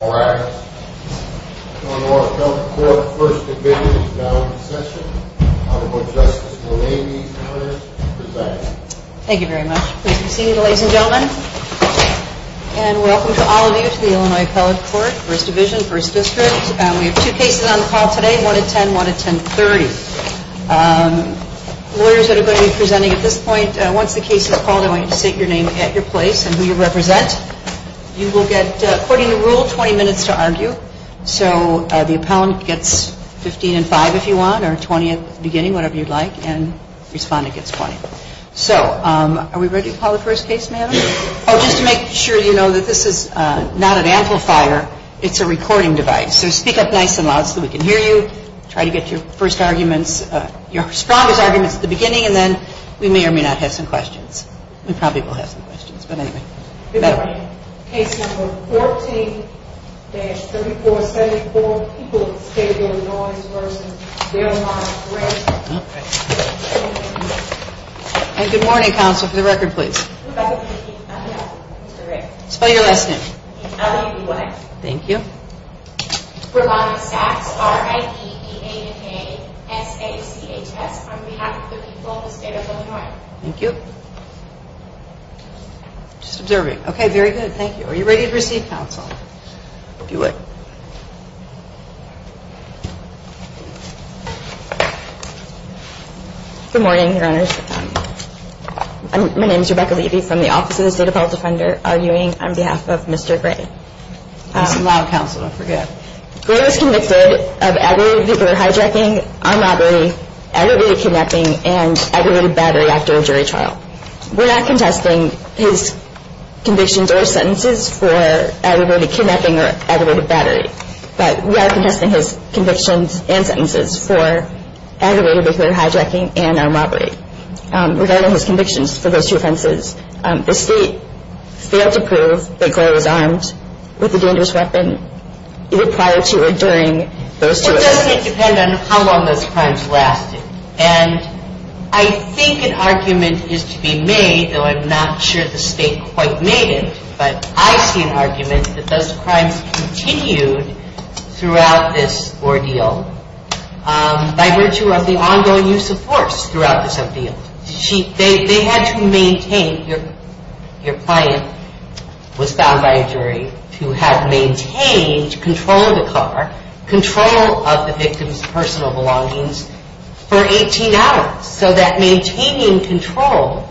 All rise. The Illinois Appellate Court First Division is now in session. I would like Justice Romney to present. Thank you very much. Please be seated, ladies and gentlemen. And welcome to all of you to the Illinois Appellate Court, First Division, First District. We have two cases on the call today, one at 10, one at 1030. Lawyers that are going to be presenting at this point, once the case is called, I want you to state your name and your place and who you represent. You will get, according to rule, 20 minutes to argue. So the appellant gets 15 and 5 if you want, or 20 at the beginning, whatever you'd like. And the respondent gets 20. So are we ready to call the first case, ma'am? Oh, just to make sure you know that this is not an amplifier. It's a recording device. So speak up nice and loud so we can hear you. Try to get your first arguments, your strongest arguments at the beginning. And then we may or may not have some questions. We probably will have some questions, but anyway. Good morning. Case number 14-3474. People with a schedule of noise versus their line of grant. Okay. And good morning, counsel. For the record, please. Rebecca McKee, I'm here. That's correct. Spell your last name. Ellie B. White. Thank you. Rebecca Sacks, R-I-E-E-A-N-A-S-A-C-H-S. On behalf of the people of the state of Illinois. Thank you. Just observing. Okay, very good. Thank you. Are you ready to receive counsel? If you would. Good morning, Your Honors. My name is Rebecca Levy from the Office of the State Appellate Defender, arguing on behalf of Mr. Gray. Some loud counsel. Don't forget. Gray was convicted of aggravated violent hijacking, armed robbery, aggravated kidnapping, and aggravated battery after a jury trial. We're not contesting his convictions or sentences for aggravated kidnapping or aggravated battery. But we are contesting his convictions and sentences for aggravated violent hijacking and armed robbery. Regarding his convictions for those two offenses, the state failed to prove that Gray was armed with a dangerous weapon either prior to or during those two offenses. Well, it doesn't depend on how long those crimes lasted. And I think an argument is to be made, though I'm not sure the state quite made it, but I see an argument that those crimes continued throughout this ordeal by virtue of the ongoing use of force throughout this ordeal. They had to maintain, your client was found by a jury, to have maintained control of the car, control of the victim's personal belongings for 18 hours. So that maintaining control,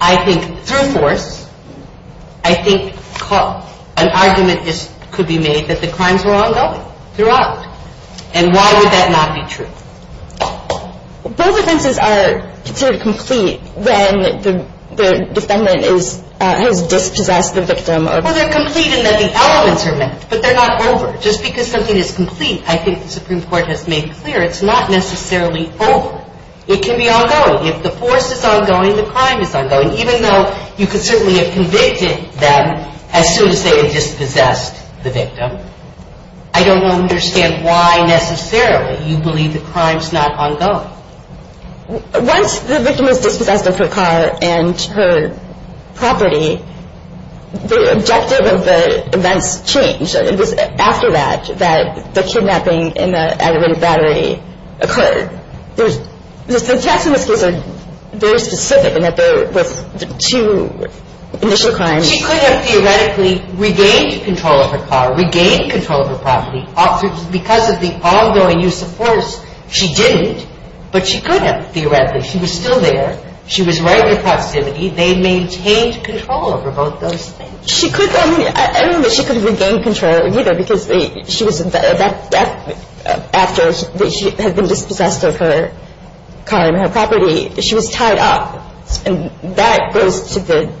I think through force, I think an argument could be made that the crimes were ongoing throughout. And why would that not be true? Both offenses are considered complete when the defendant has dispossessed the victim. Well, they're complete in that the elements are met, but they're not over. Just because something is complete, I think the Supreme Court has made clear, it's not necessarily over. It can be ongoing. If the force is ongoing, the crime is ongoing, even though you could certainly have convicted them as soon as they had dispossessed the victim. I don't understand why necessarily you believe the crime's not ongoing. Once the victim was dispossessed of her car and her property, the objective of the events changed. It was after that that the kidnapping and the aggravated battery occurred. The attacks in this case are very specific in that there were two initial crimes. She could have theoretically regained control of her car, regained control of her property, because of the ongoing use of force. She didn't, but she could have theoretically. She was still there. She was right in proximity. They maintained control over both those things. She could have. I mean, I don't know that she could have regained control either because after she had been dispossessed of her car and her property, she was tied up. And that goes to the…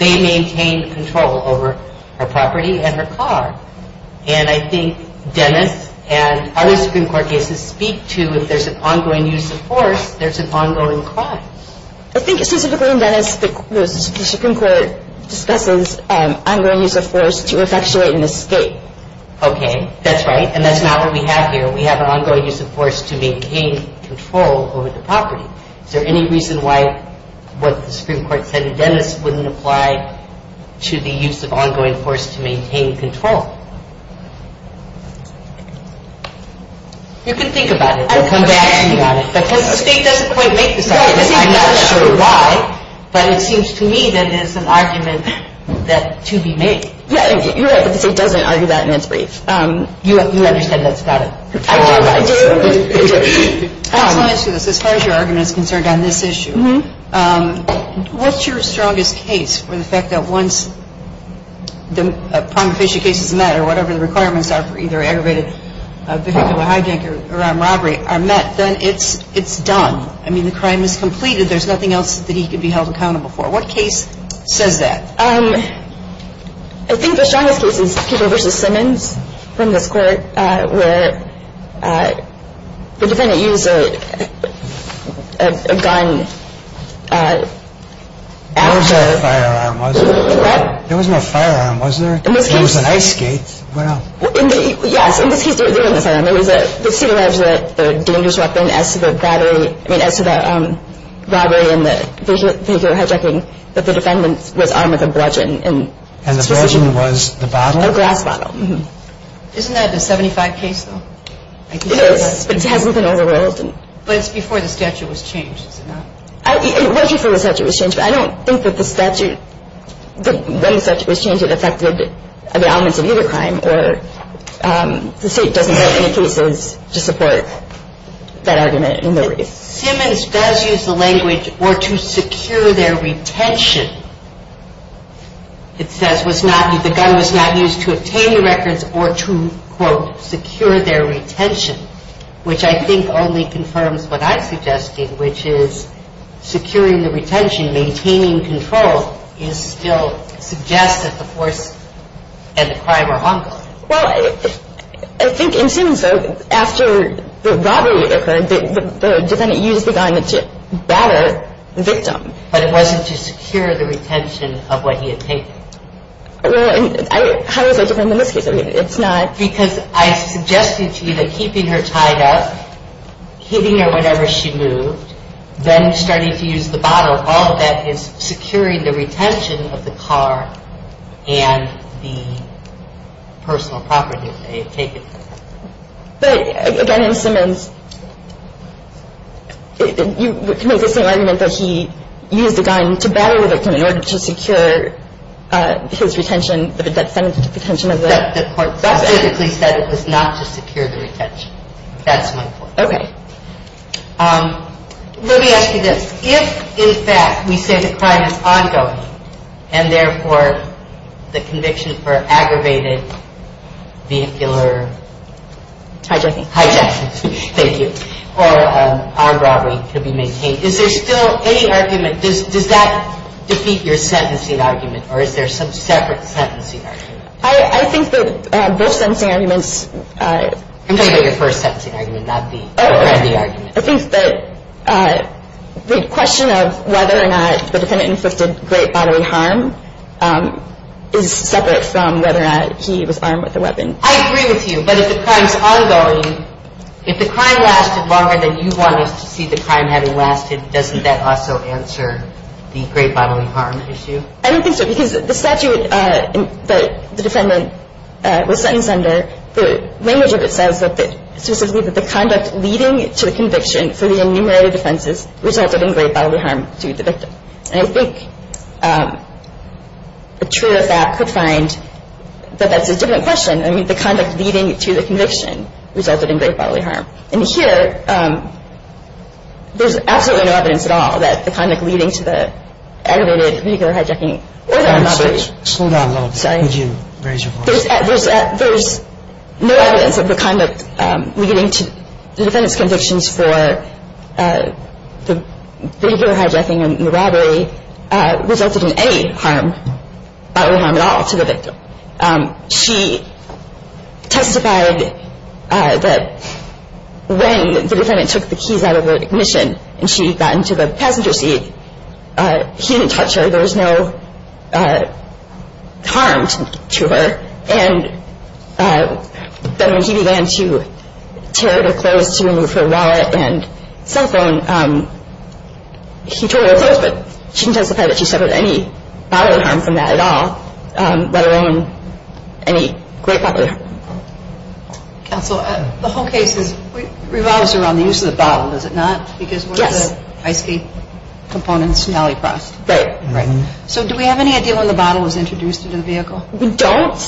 They maintained control over her property and her car. And I think Dennis and other Supreme Court cases speak to if there's an ongoing use of force, there's an ongoing crime. I think specifically in Dennis, the Supreme Court discusses ongoing use of force to effectuate an escape. Okay. That's right, and that's not what we have here. Is there any reason why what the Supreme Court said in Dennis wouldn't apply to the use of ongoing force to maintain control? You can think about it. We'll come back to you on it. Because the State doesn't quite make this argument. I'm not sure why, but it seems to me that it's an argument to be made. Yeah, you're right. The State doesn't argue that, and it's brief. You understand that's not it. I do, I do. I just want to ask you this. As far as your argument is concerned on this issue, what's your strongest case for the fact that once the prima facie case is met or whatever the requirements are for either aggravated vehicular hijacker or armed robbery are met, then it's done? I mean, the crime is completed. There's nothing else that he could be held accountable for. What case says that? I think the strongest case is People v. Simmons from this court where the defendant used a gun after. There was no firearm, was there? What? There was no firearm, was there? It was an ice skate. Yes, in this case there was no firearm. The State alleged that the dangerous weapon as to the robbery and the vehicular hijacking that the defendant was armed with a bludgeon. And the bludgeon was the bottle? A glass bottle. Isn't that a 75 case, though? It is, but it hasn't been overruled. But it's before the statute was changed, is it not? It was before the statute was changed, but I don't think that when the statute was changed it affected the elements of either crime or the State doesn't have any cases to support that argument in the brief. If Simmons does use the language, or to secure their retention, it says the gun was not used to obtain the records or to, quote, secure their retention, which I think only confirms what I'm suggesting, which is securing the retention, maintaining control, still suggests that the force and the crime are hunkered. Well, I think in Simmons, though, after the robbery occurred, the defendant used the gun to batter the victim. But it wasn't to secure the retention of what he had taken. How is that different in this case? It's not. Because I suggested to you that keeping her tied up, hitting her whenever she moved, then starting to use the bottle, all of that is securing the retention of the car and the personal property that they had taken. But, again, in Simmons, you make the same argument that he used the gun to batter the victim in order to secure his retention, the defendant's retention of the car. The court specifically said it was not to secure the retention. That's my point. Okay. Let me ask you this. If, in fact, we say the crime is ongoing and, therefore, the conviction for aggravated vehicular hijacking, thank you, or armed robbery could be maintained, is there still any argument? Does that defeat your sentencing argument, or is there some separate sentencing argument? I think that both sentencing arguments. I'm talking about your first sentencing argument, not the argument. I think that the question of whether or not the defendant inflicted great bodily harm is separate from whether or not he was armed with a weapon. I agree with you, but if the crime is ongoing, if the crime lasted longer than you want us to see the crime having lasted, doesn't that also answer the great bodily harm issue? I don't think so, because the statute that the defendant was sentenced under, the language of it says specifically that the conduct leading to the conviction for the enumerated offenses resulted in great bodily harm to the victim. And I think the truer fact could find that that's a different question. I mean, the conduct leading to the conviction resulted in great bodily harm. And here, there's absolutely no evidence at all that the conduct leading to the aggravated vehicular hijacking or the armed robbery. Slow down a little bit. Sorry. Could you raise your voice? There's no evidence of the conduct leading to the defendant's convictions for the vehicular hijacking and the robbery resulted in any harm, bodily harm at all to the victim. She testified that when the defendant took the keys out of the ignition and she got into the passenger seat, he didn't touch her. There was no harm to her. And then when he began to tear at her clothes to remove her wallet and cell phone, he tore at her clothes, but she didn't testify that she suffered any bodily harm from that at all, let alone any great bodily harm. Counsel, the whole case revolves around the use of the bottle, does it not? Yes. Because one of the ice cube components in Aliprost. Right. So do we have any idea when the bottle was introduced into the vehicle? We don't.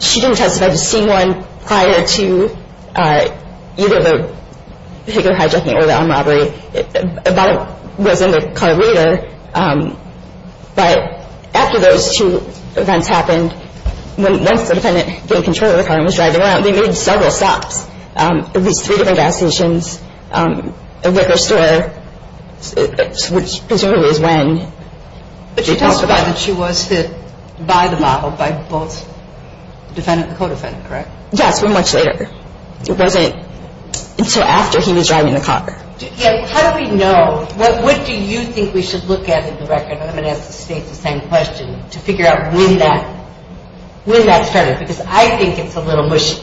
She didn't testify to seeing one prior to either the vehicular hijacking or the armed robbery. The bottle was in the car later, but after those two events happened, once the defendant gained control of the car and was driving around, they made several stops, at least three different gas stations, a liquor store, which presumably is when she testified. But she testified that she was hit by the bottle by both the defendant and the co-defendant, correct? Yes, but much later. It wasn't until after he was driving the car. How do we know? What do you think we should look at in the record? I'm going to ask the State the same question to figure out when that started because I think it's a little mushy,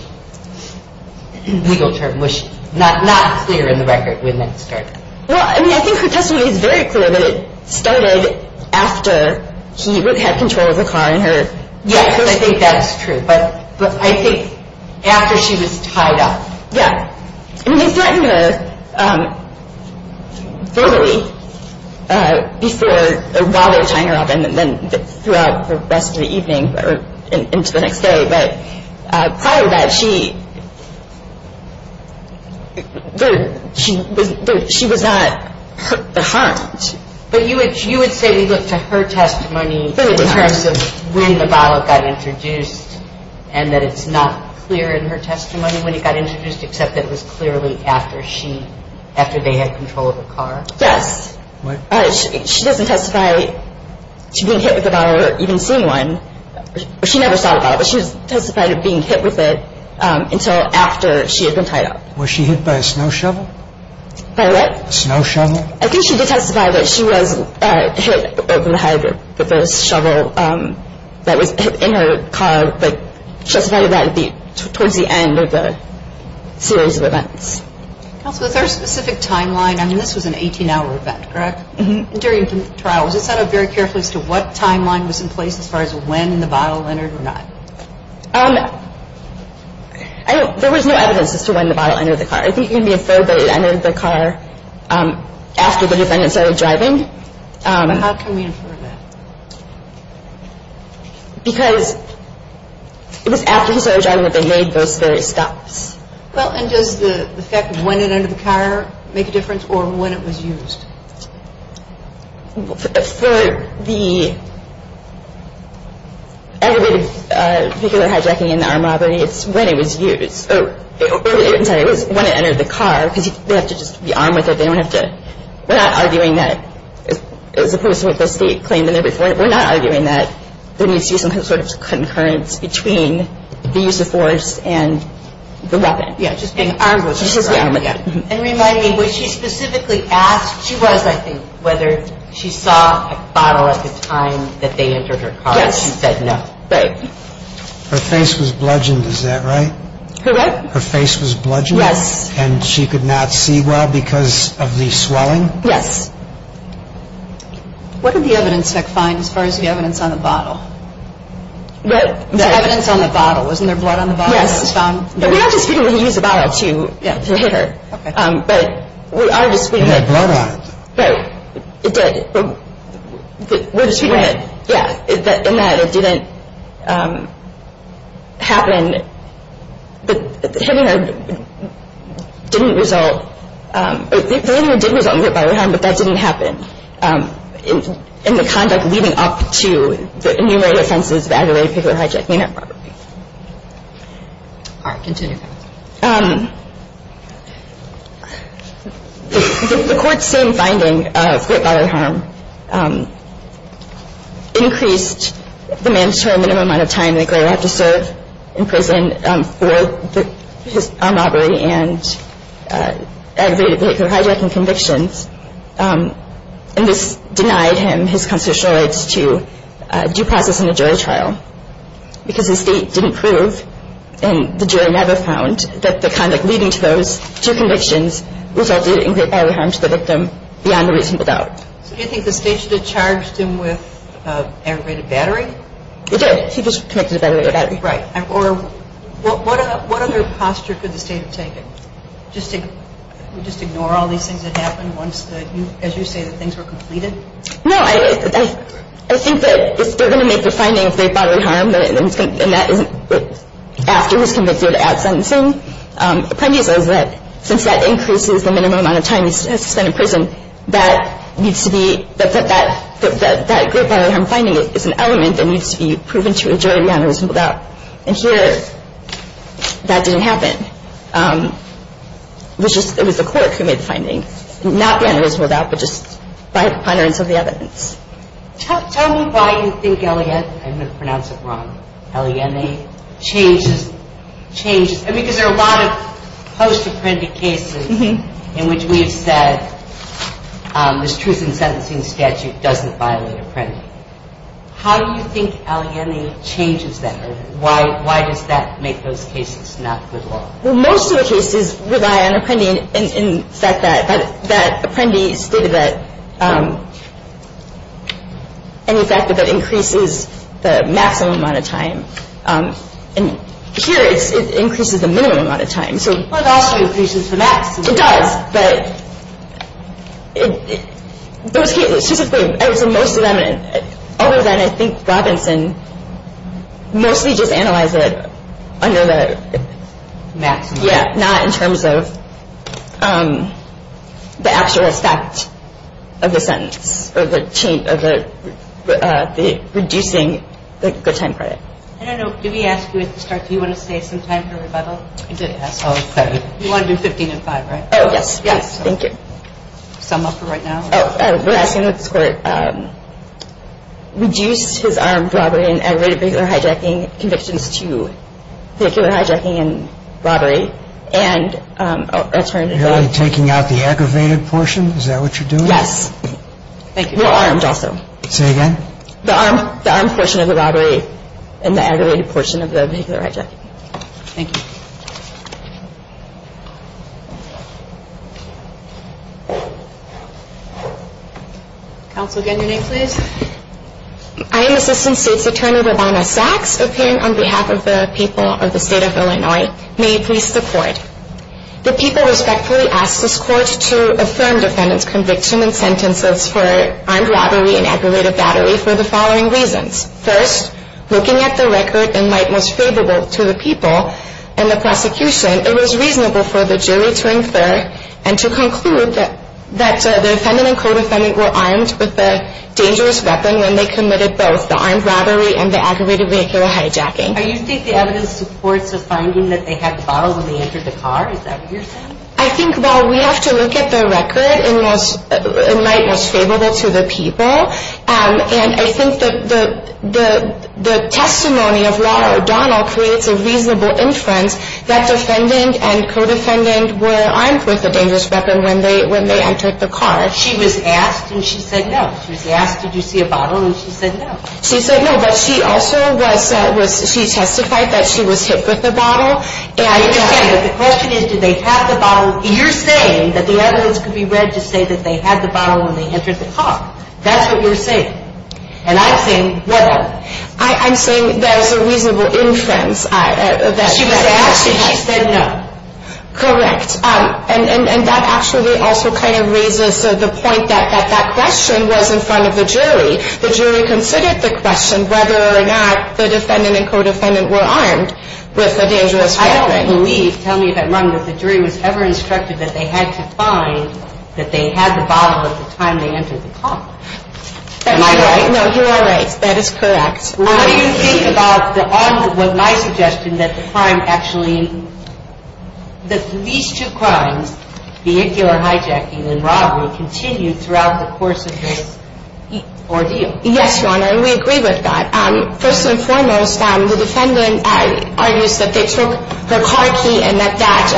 legal term, mushy, not clear in the record when that started. Well, I mean, I think her testimony is very clear that it started after he had control of the car and her. Yes, I think that's true. But I think after she was tied up. Yeah. I mean, they threatened her verbally while they were tying her up and then throughout the rest of the evening or into the next day. But prior to that, she was not harmed. But you would say we look to her testimony in terms of when the bottle got introduced and that it's not clear in her testimony when it got introduced except that it was clearly after they had control of the car? Yes. She doesn't testify to being hit with a bottle or even seeing one. She never saw a bottle, but she testified of being hit with it until after she had been tied up. Was she hit by a snow shovel? By what? A snow shovel. I think she did testify that she was hit over the head with a shovel that was in her car, Counsel, is there a specific timeline? I mean, this was an 18-hour event, correct? Mm-hmm. During the trial, was it set up very carefully as to what timeline was in place as far as when the bottle entered or not? There was no evidence as to when the bottle entered the car. I think it can be inferred that it entered the car after the defendant started driving. But how can we infer that? Because it was after he started driving that they made those very stops. Well, and does the fact of when it entered the car make a difference or when it was used? For the aggravated vehicular hijacking and the armed robbery, it's when it was used. I'm sorry, it was when it entered the car because they have to just be armed with it. They don't have to. We're not arguing that as opposed to what the state claimed in there before. We're not arguing that there needs to be some sort of concurrence between the use of force and the weapon. Yeah, just being armed with it. Just being armed with it. And remind me, was she specifically asked, she was I think, whether she saw a bottle at the time that they entered her car and she said no? Yes. Right. Her face was bludgeoned, is that right? Correct. Her face was bludgeoned? Yes. And she could not see well because of the swelling? Yes. What did the evidence tech find as far as the evidence on the bottle? The evidence on the bottle. Wasn't there blood on the bottle when it was found? Yes. But we are disputing that he used a bottle to hit her. Okay. But we are disputing that. He had blood on it. Right. It did. But we're disputing that. It was wet. Yeah. And that it didn't happen. The hitting her didn't result, the hitting her did result in violent harm, but that didn't happen. And the conduct leading up to the enumerated offenses of aggravated vehicle hijacking and robbery. All right. Continue. The court's same finding of great bodily harm increased the mandatory minimum amount of time that Gray would have to serve in prison for a robbery and aggravated vehicle hijacking convictions. And this denied him his constitutional rights to due process in a jury trial because the state didn't prove and the jury never found that the conduct leading to those two convictions resulted in great bodily harm to the victim beyond the reasonable doubt. So do you think the state should have charged him with aggravated battery? It did. He was convicted of aggravated battery. Right. Or what other posture could the state have taken? Just ignore all these things that happened once, as you say, the things were completed? No. I think that they're going to make the finding of great bodily harm and that is after he's convicted at sentencing. The premise is that since that increases the minimum amount of time he has to spend in prison, that needs to be, that great bodily harm finding is an element that needs to be proven to a jury beyond the reasonable doubt. And here, that didn't happen. It was the clerk who made the finding, not beyond the reasonable doubt, but just by the ponderance of the evidence. Tell me why you think Eliane, I'm going to pronounce it wrong, Eliane changes, I mean because there are a lot of post-apprendi cases in which we have said this truth in sentencing statute doesn't violate apprendi. How do you think Eliane changes that? Why does that make those cases not good law? Well, most of the cases rely on apprendi and the fact that apprendi stated that and the fact that that increases the maximum amount of time. And here it increases the minimum amount of time. Well, it also increases the maximum. It does. But those cases, most of them, other than I think Robinson, mostly just analyze it under the maximum, not in terms of the actual effect of the sentence or the reducing the good time credit. I don't know, did we ask you at the start, do you want to save some time for rebuttal? I did ask. You want to do 15 to 5, right? Oh, yes. Yes. Thank you. Sum up for right now. We're asking that this Court reduce his armed robbery and aggravated vehicular hijacking convictions to vehicular hijacking and robbery and alternatively... You're taking out the aggravated portion? Is that what you're doing? Yes. Thank you. You're armed also. Say again? The armed portion of the robbery and the aggravated portion of the vehicular hijacking. Thank you. Counsel, again, your name, please. I am Assistant State's Attorney Robana Sacks, appearing on behalf of the people of the State of Illinois. May it please the Court. The people respectfully ask this Court to affirm defendant's conviction and sentences for armed robbery and aggravated battery for the following reasons. First, looking at the record in light most favorable to the people and the prosecution, it was reasonable for the jury to infer and to conclude that the defendant and co-defendant were armed with a dangerous weapon when they committed both the armed robbery and the aggravated vehicular hijacking. Are you saying the evidence supports the finding that they had the bottle when they entered the car? Is that what you're saying? I think while we have to look at the record in light most favorable to the people, and I think the testimony of Laura O'Donnell creates a reasonable inference that the defendant and co-defendant were armed with a dangerous weapon when they entered the car. She was asked, and she said no. She was asked, did you see a bottle, and she said no. She said no, but she also testified that she was hit with the bottle. The question is, did they have the bottle? You're saying that the evidence could be read to say that they had the bottle when they entered the car. That's what you're saying. And I'm saying whatever. I'm saying that is a reasonable inference. She was asked, and she said no. Correct. And that actually also kind of raises the point that that question was in front of the jury. The jury considered the question whether or not the defendant and co-defendant were armed with a dangerous weapon. I don't believe, tell me if I'm wrong, that the jury was ever instructed that they had to find that they had the bottle at the time they entered the car. Am I right? No, you are right. That is correct. What do you think about what my suggestion that the crime actually, that these two crimes, vehicular hijacking and robbery, continued throughout the course of this ordeal? Yes, Your Honor, and we agree with that. First and foremost, the defendant argues that they took her car key and that that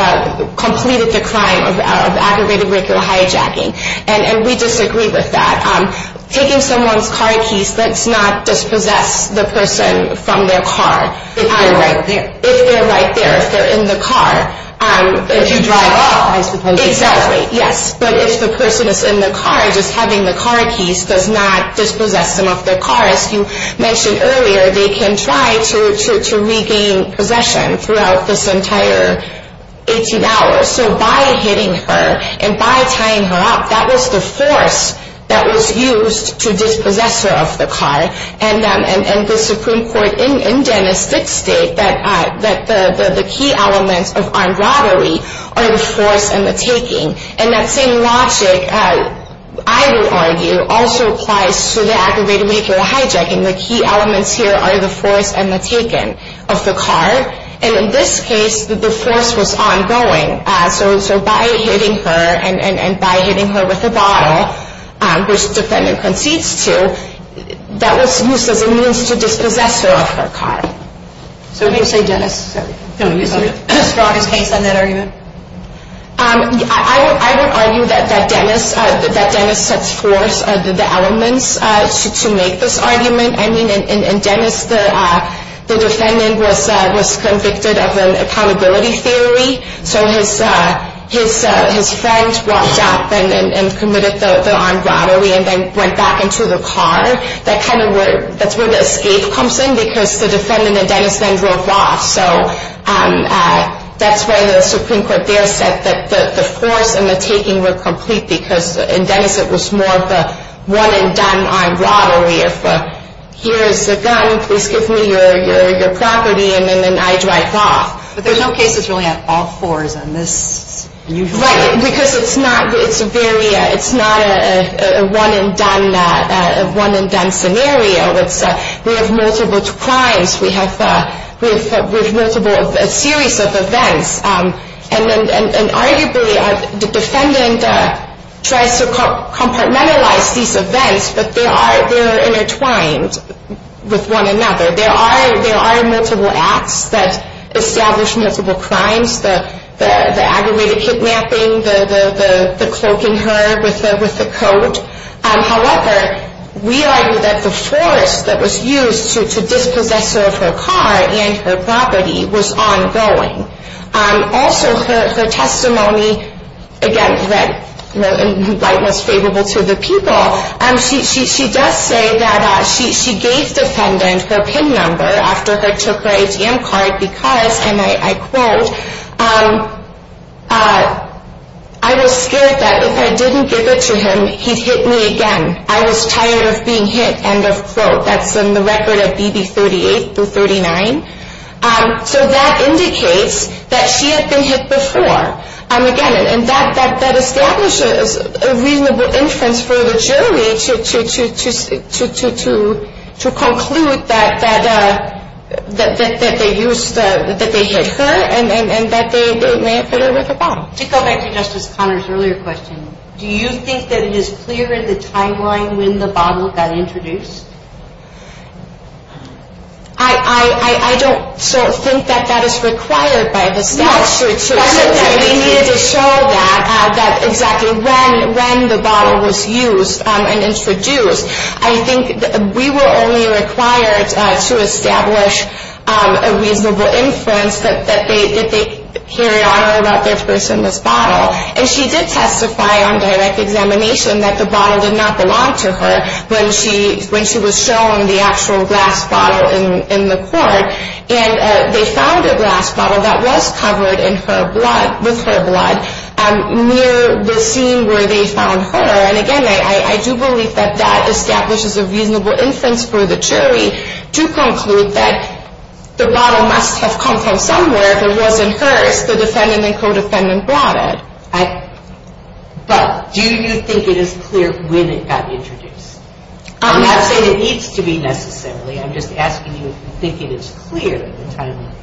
completed the crime of aggravated vehicular hijacking, and we disagree with that. Taking someone's car keys does not dispossess the person from their car. If they're right there. If they're right there, if they're in the car. If you drive off, I suppose. Exactly, yes. But if the person is in the car, just having the car keys does not dispossess them of their car. As you mentioned earlier, they can try to regain possession throughout this entire 18 hours. So by hitting her and by tying her up, that was the force that was used to dispossess her of the car. And the Supreme Court in Dennis did state that the key elements of armed robbery are the force and the taking. And that same logic, I would argue, also applies to the aggravated vehicular hijacking. The key elements here are the force and the taking of the car. And in this case, the force was ongoing. So by hitting her and by hitting her with a bottle, which the defendant concedes to, that was used as a means to dispossess her of her car. So do you say Dennis is the strongest case on that argument? I would argue that Dennis sets forth the elements to make this argument. I mean, in Dennis, the defendant was convicted of an accountability theory. So his friend walked up and committed the armed robbery and then went back into the car. That's where the escape comes in because the defendant in Dennis then drove off. So that's where the Supreme Court there said that the force and the taking were complete because in Dennis it was more of a one-and-done armed robbery. If here is the gun, please give me your property, and then I drive off. But there's no cases really on all fours on this. Right, because it's not a one-and-done scenario. We have multiple crimes. We have a series of events. And arguably the defendant tries to compartmentalize these events, but they are intertwined with one another. There are multiple acts that establish multiple crimes, the aggravated kidnapping, the cloaking her with the coat. However, we argue that the force that was used to dispossess her of her car and her property was ongoing. Also, her testimony, again, was favorable to the people. She does say that she gave the defendant her PIN number after she took her ATM card because, and I quote, I was scared that if I didn't give it to him, he'd hit me again. I was tired of being hit, end of quote. That's in the record of BB38-39. So that indicates that she had been hit before. Again, and that establishes a reasonable inference for the jury to conclude that they hit her and that they hit her with a bottle. To go back to Justice Conner's earlier question, do you think that it is clear in the timeline when the bottle got introduced? I don't think that that is required by the statute. We needed to show that exactly when the bottle was used and introduced. I think we were only required to establish a reasonable inference that they carried on about their personless bottle. And she did testify on direct examination that the bottle did not belong to her when she was shown the actual glass bottle in the court. And they found a glass bottle that was covered in her blood, with her blood, near the scene where they found her. And again, I do believe that that establishes a reasonable inference for the jury to conclude that the bottle must have come from somewhere. If it wasn't hers, the defendant and co-defendant brought it. But do you think it is clear when it got introduced? I'm not saying it needs to be necessarily. I'm just asking you if you think it is clear in the timeline.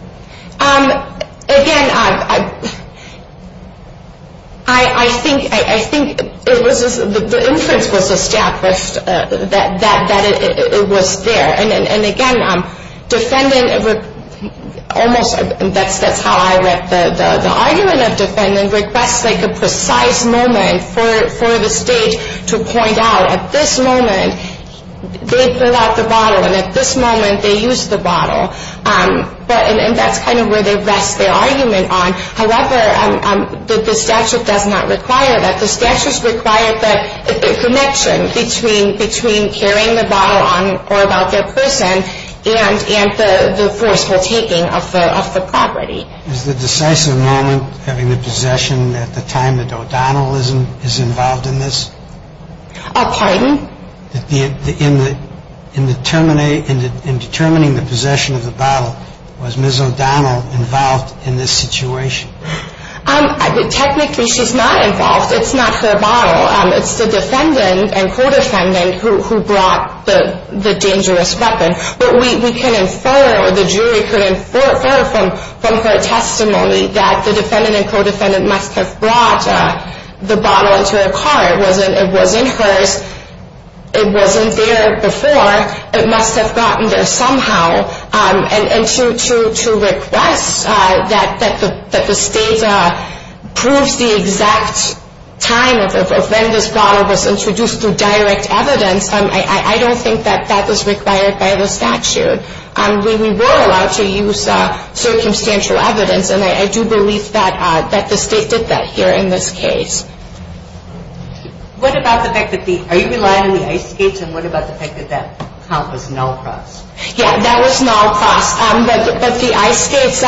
Again, I think the inference was established that it was there. And again, that's how I read the argument. The defendant requests a precise moment for the state to point out, at this moment they pull out the bottle and at this moment they use the bottle. And that's kind of where they rest their argument on. However, the statute does not require that. The statute requires the connection between carrying the bottle on or about their person and the forceful taking of the property. Is the decisive moment having the possession at the time that O'Donnell is involved in this? Pardon? In determining the possession of the bottle, was Ms. O'Donnell involved in this situation? Technically, she's not involved. It's not her bottle. It's the defendant and co-defendant who brought the dangerous weapon. But we can infer or the jury can infer from her testimony that the defendant and co-defendant must have brought the bottle into her car. It wasn't hers. It wasn't there before. It must have gotten there somehow. And to request that the state proves the exact time of when this bottle was introduced through direct evidence, I don't think that that was required by the statute. We were allowed to use circumstantial evidence. And I do believe that the state did that here in this case. Are you relying on the ice skates? And what about the fact that that count was null across? Yeah, that was null across. But the ice skates,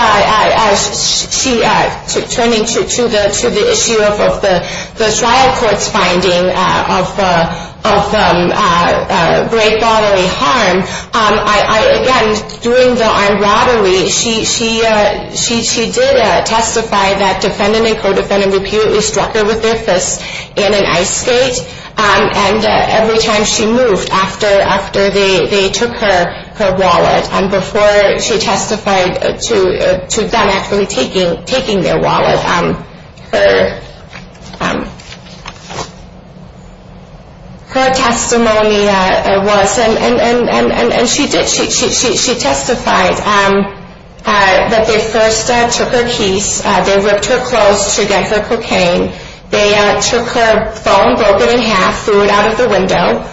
turning to the issue of the trial court's finding of great bodily harm, again, during the armed robbery, she did testify that defendant and co-defendant repeatedly struck her with their fists in an ice skate. And every time she moved after they took her wallet, before she testified to them actually taking their wallet, her testimony was, and she did, she testified that they first took her keys. They ripped her clothes to get her cocaine. They took her phone, broke it in half, threw it out of the window.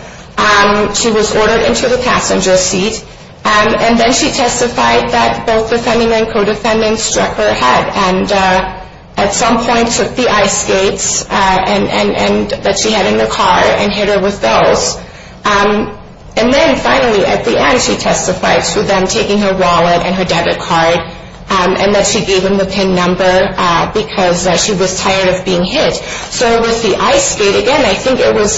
She was ordered into the passenger seat. And then she testified that both defendant and co-defendant struck her head and at some point took the ice skates that she had in the car and hit her with those. And then finally, at the end, she testified to them taking her wallet and her debit card and that she gave them the PIN number because she was tired of being hit. So it was the ice skate. Again, I think it was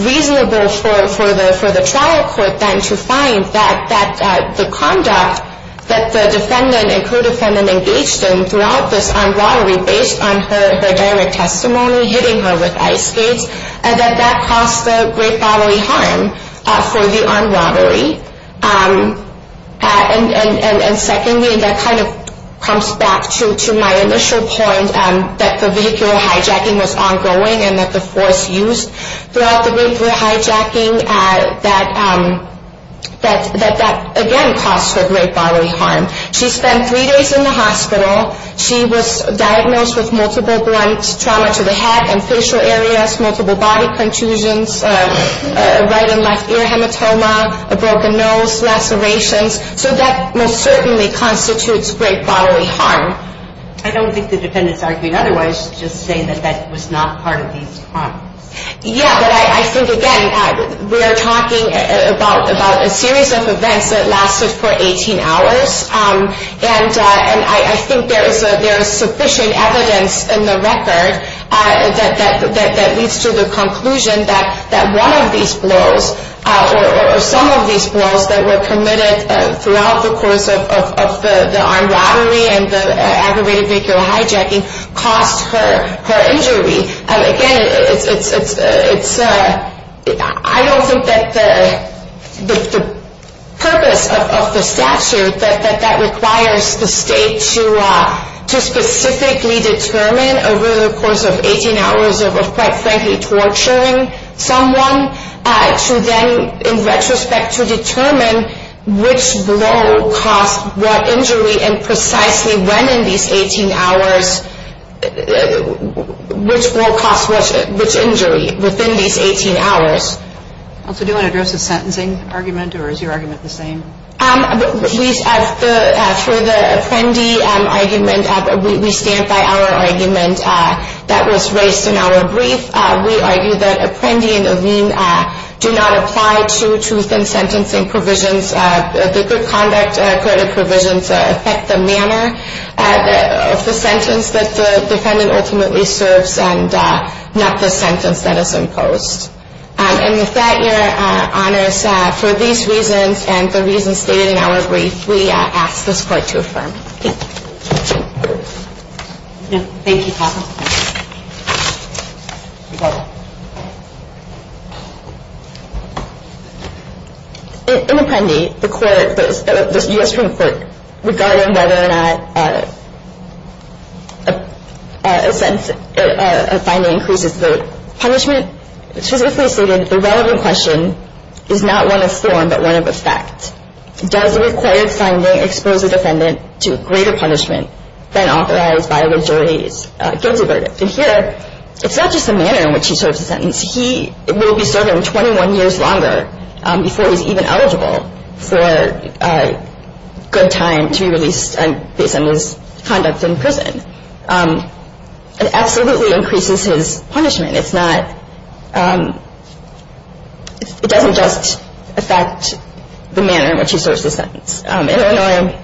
reasonable for the trial court then to find that the conduct that the defendant and co-defendant engaged in throughout this armed robbery based on her direct testimony, hitting her with ice skates, and that that caused the great bodily harm for the armed robbery. And secondly, that kind of comes back to my initial point that the vehicular hijacking was ongoing and that the force used throughout the vehicular hijacking, that that again caused her great bodily harm. She spent three days in the hospital. She was diagnosed with multiple blunts, trauma to the head and facial areas, multiple body contusions, right and left ear hematoma, a broken nose, lacerations. So that most certainly constitutes great bodily harm. I don't think the defendant is arguing otherwise, just saying that that was not part of these crimes. Yeah, but I think, again, we are talking about a series of events that lasted for 18 hours. And I think there is sufficient evidence in the record that leads to the conclusion that one of these blows or some of these blows that were committed throughout the course of the armed robbery and the aggravated vehicular hijacking caused her injury. Again, I don't think that the purpose of the statute, that that requires the state to specifically determine over the course of 18 hours of, quite frankly, torturing someone, to then, in retrospect, to determine which blow caused what injury and precisely when in these 18 hours, which blow caused which injury within these 18 hours. Do you want to address the sentencing argument or is your argument the same? For the Apprendi argument, we stand by our argument that was raised in our brief. We argue that Apprendi and Avene do not apply to truth in sentencing provisions. The good conduct credit provisions affect the manner of the sentence that the defendant ultimately serves and not the sentence that is imposed. And with that, Your Honors, for these reasons and the reasons stated in our brief, we ask this Court to affirm. Thank you. Thank you. In Apprendi, the U.S. Supreme Court, regarding whether or not a sentence, a finding, increases the punishment, specifically stated the relevant question is not one of form but one of effect. Does the required finding expose the defendant to greater punishment than authorized by the jury's guilty verdict? And here, it's not just the manner in which he serves the sentence. He will be serving 21 years longer before he's even eligible for a good time to be released based on his conduct in prison. It absolutely increases his punishment. It's not – it doesn't just affect the manner in which he serves the sentence. In Illinois,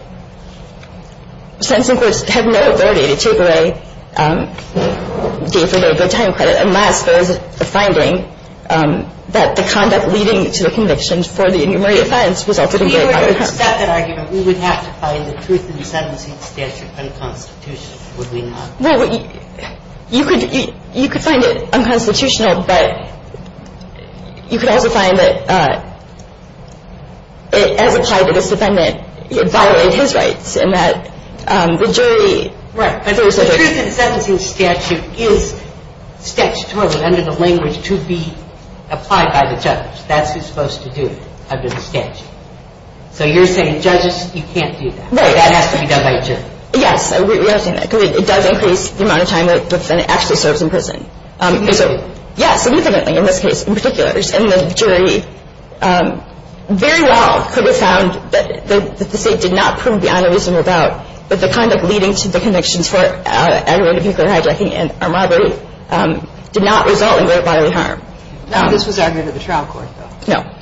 sentencing courts have no authority to take away the time credit, unless there is a finding that the conduct leading to the conviction for the inhumane offense resulted in greater punishment. If we were to accept that argument, we would have to find the truth in the sentencing statute unconstitutional, would we not? Well, you could find it unconstitutional, but you could also find that it, as applied to this defendant, it violated his rights in that the jury – Right. The truth in the sentencing statute is statutory under the language to be applied by the judge. That's who's supposed to do it under the statute. So you're saying judges, you can't do that. Right. That has to be done by a jury. Yes. We understand that. Because it does increase the amount of time that the defendant actually serves in prison. So, yes, significantly in this case, in particular. And the jury very well could have found that the state did not prove the honor reasonable about that the conduct leading to the convictions for aggravated vehicular hijacking and robbery did not result in great bodily harm. Now, this was aggravated to the trial court, though. No.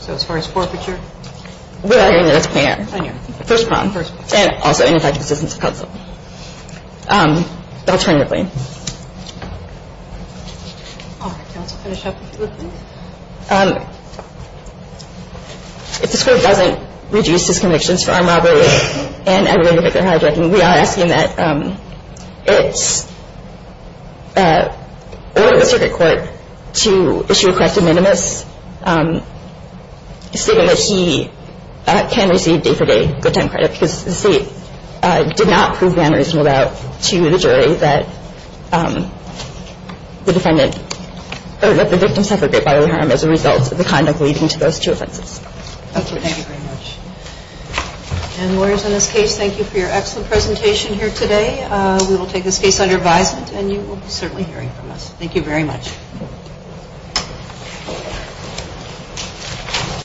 So as far as forfeiture? We're arguing that it's plain error. Plain error. First crime. First crime. And also ineffective assistance of counsel. Alternatively. All right. Counsel, finish up, if you would, please. If this Court doesn't reduce his convictions for armed robbery and aggravated vehicular hijacking, we are asking that it's ordered the circuit court to issue a corrective minimus stating that he can receive day-for-day good time credit because the state did not prove the honor reasonable about to the jury that the defendant or that the victim suffered great bodily harm as a result of the conduct leading to those two offenses. Thank you. Thank you very much. And lawyers in this case, thank you for your excellent presentation here today. We will take this case under advisement, and you will be certainly hearing from us. Thank you very much.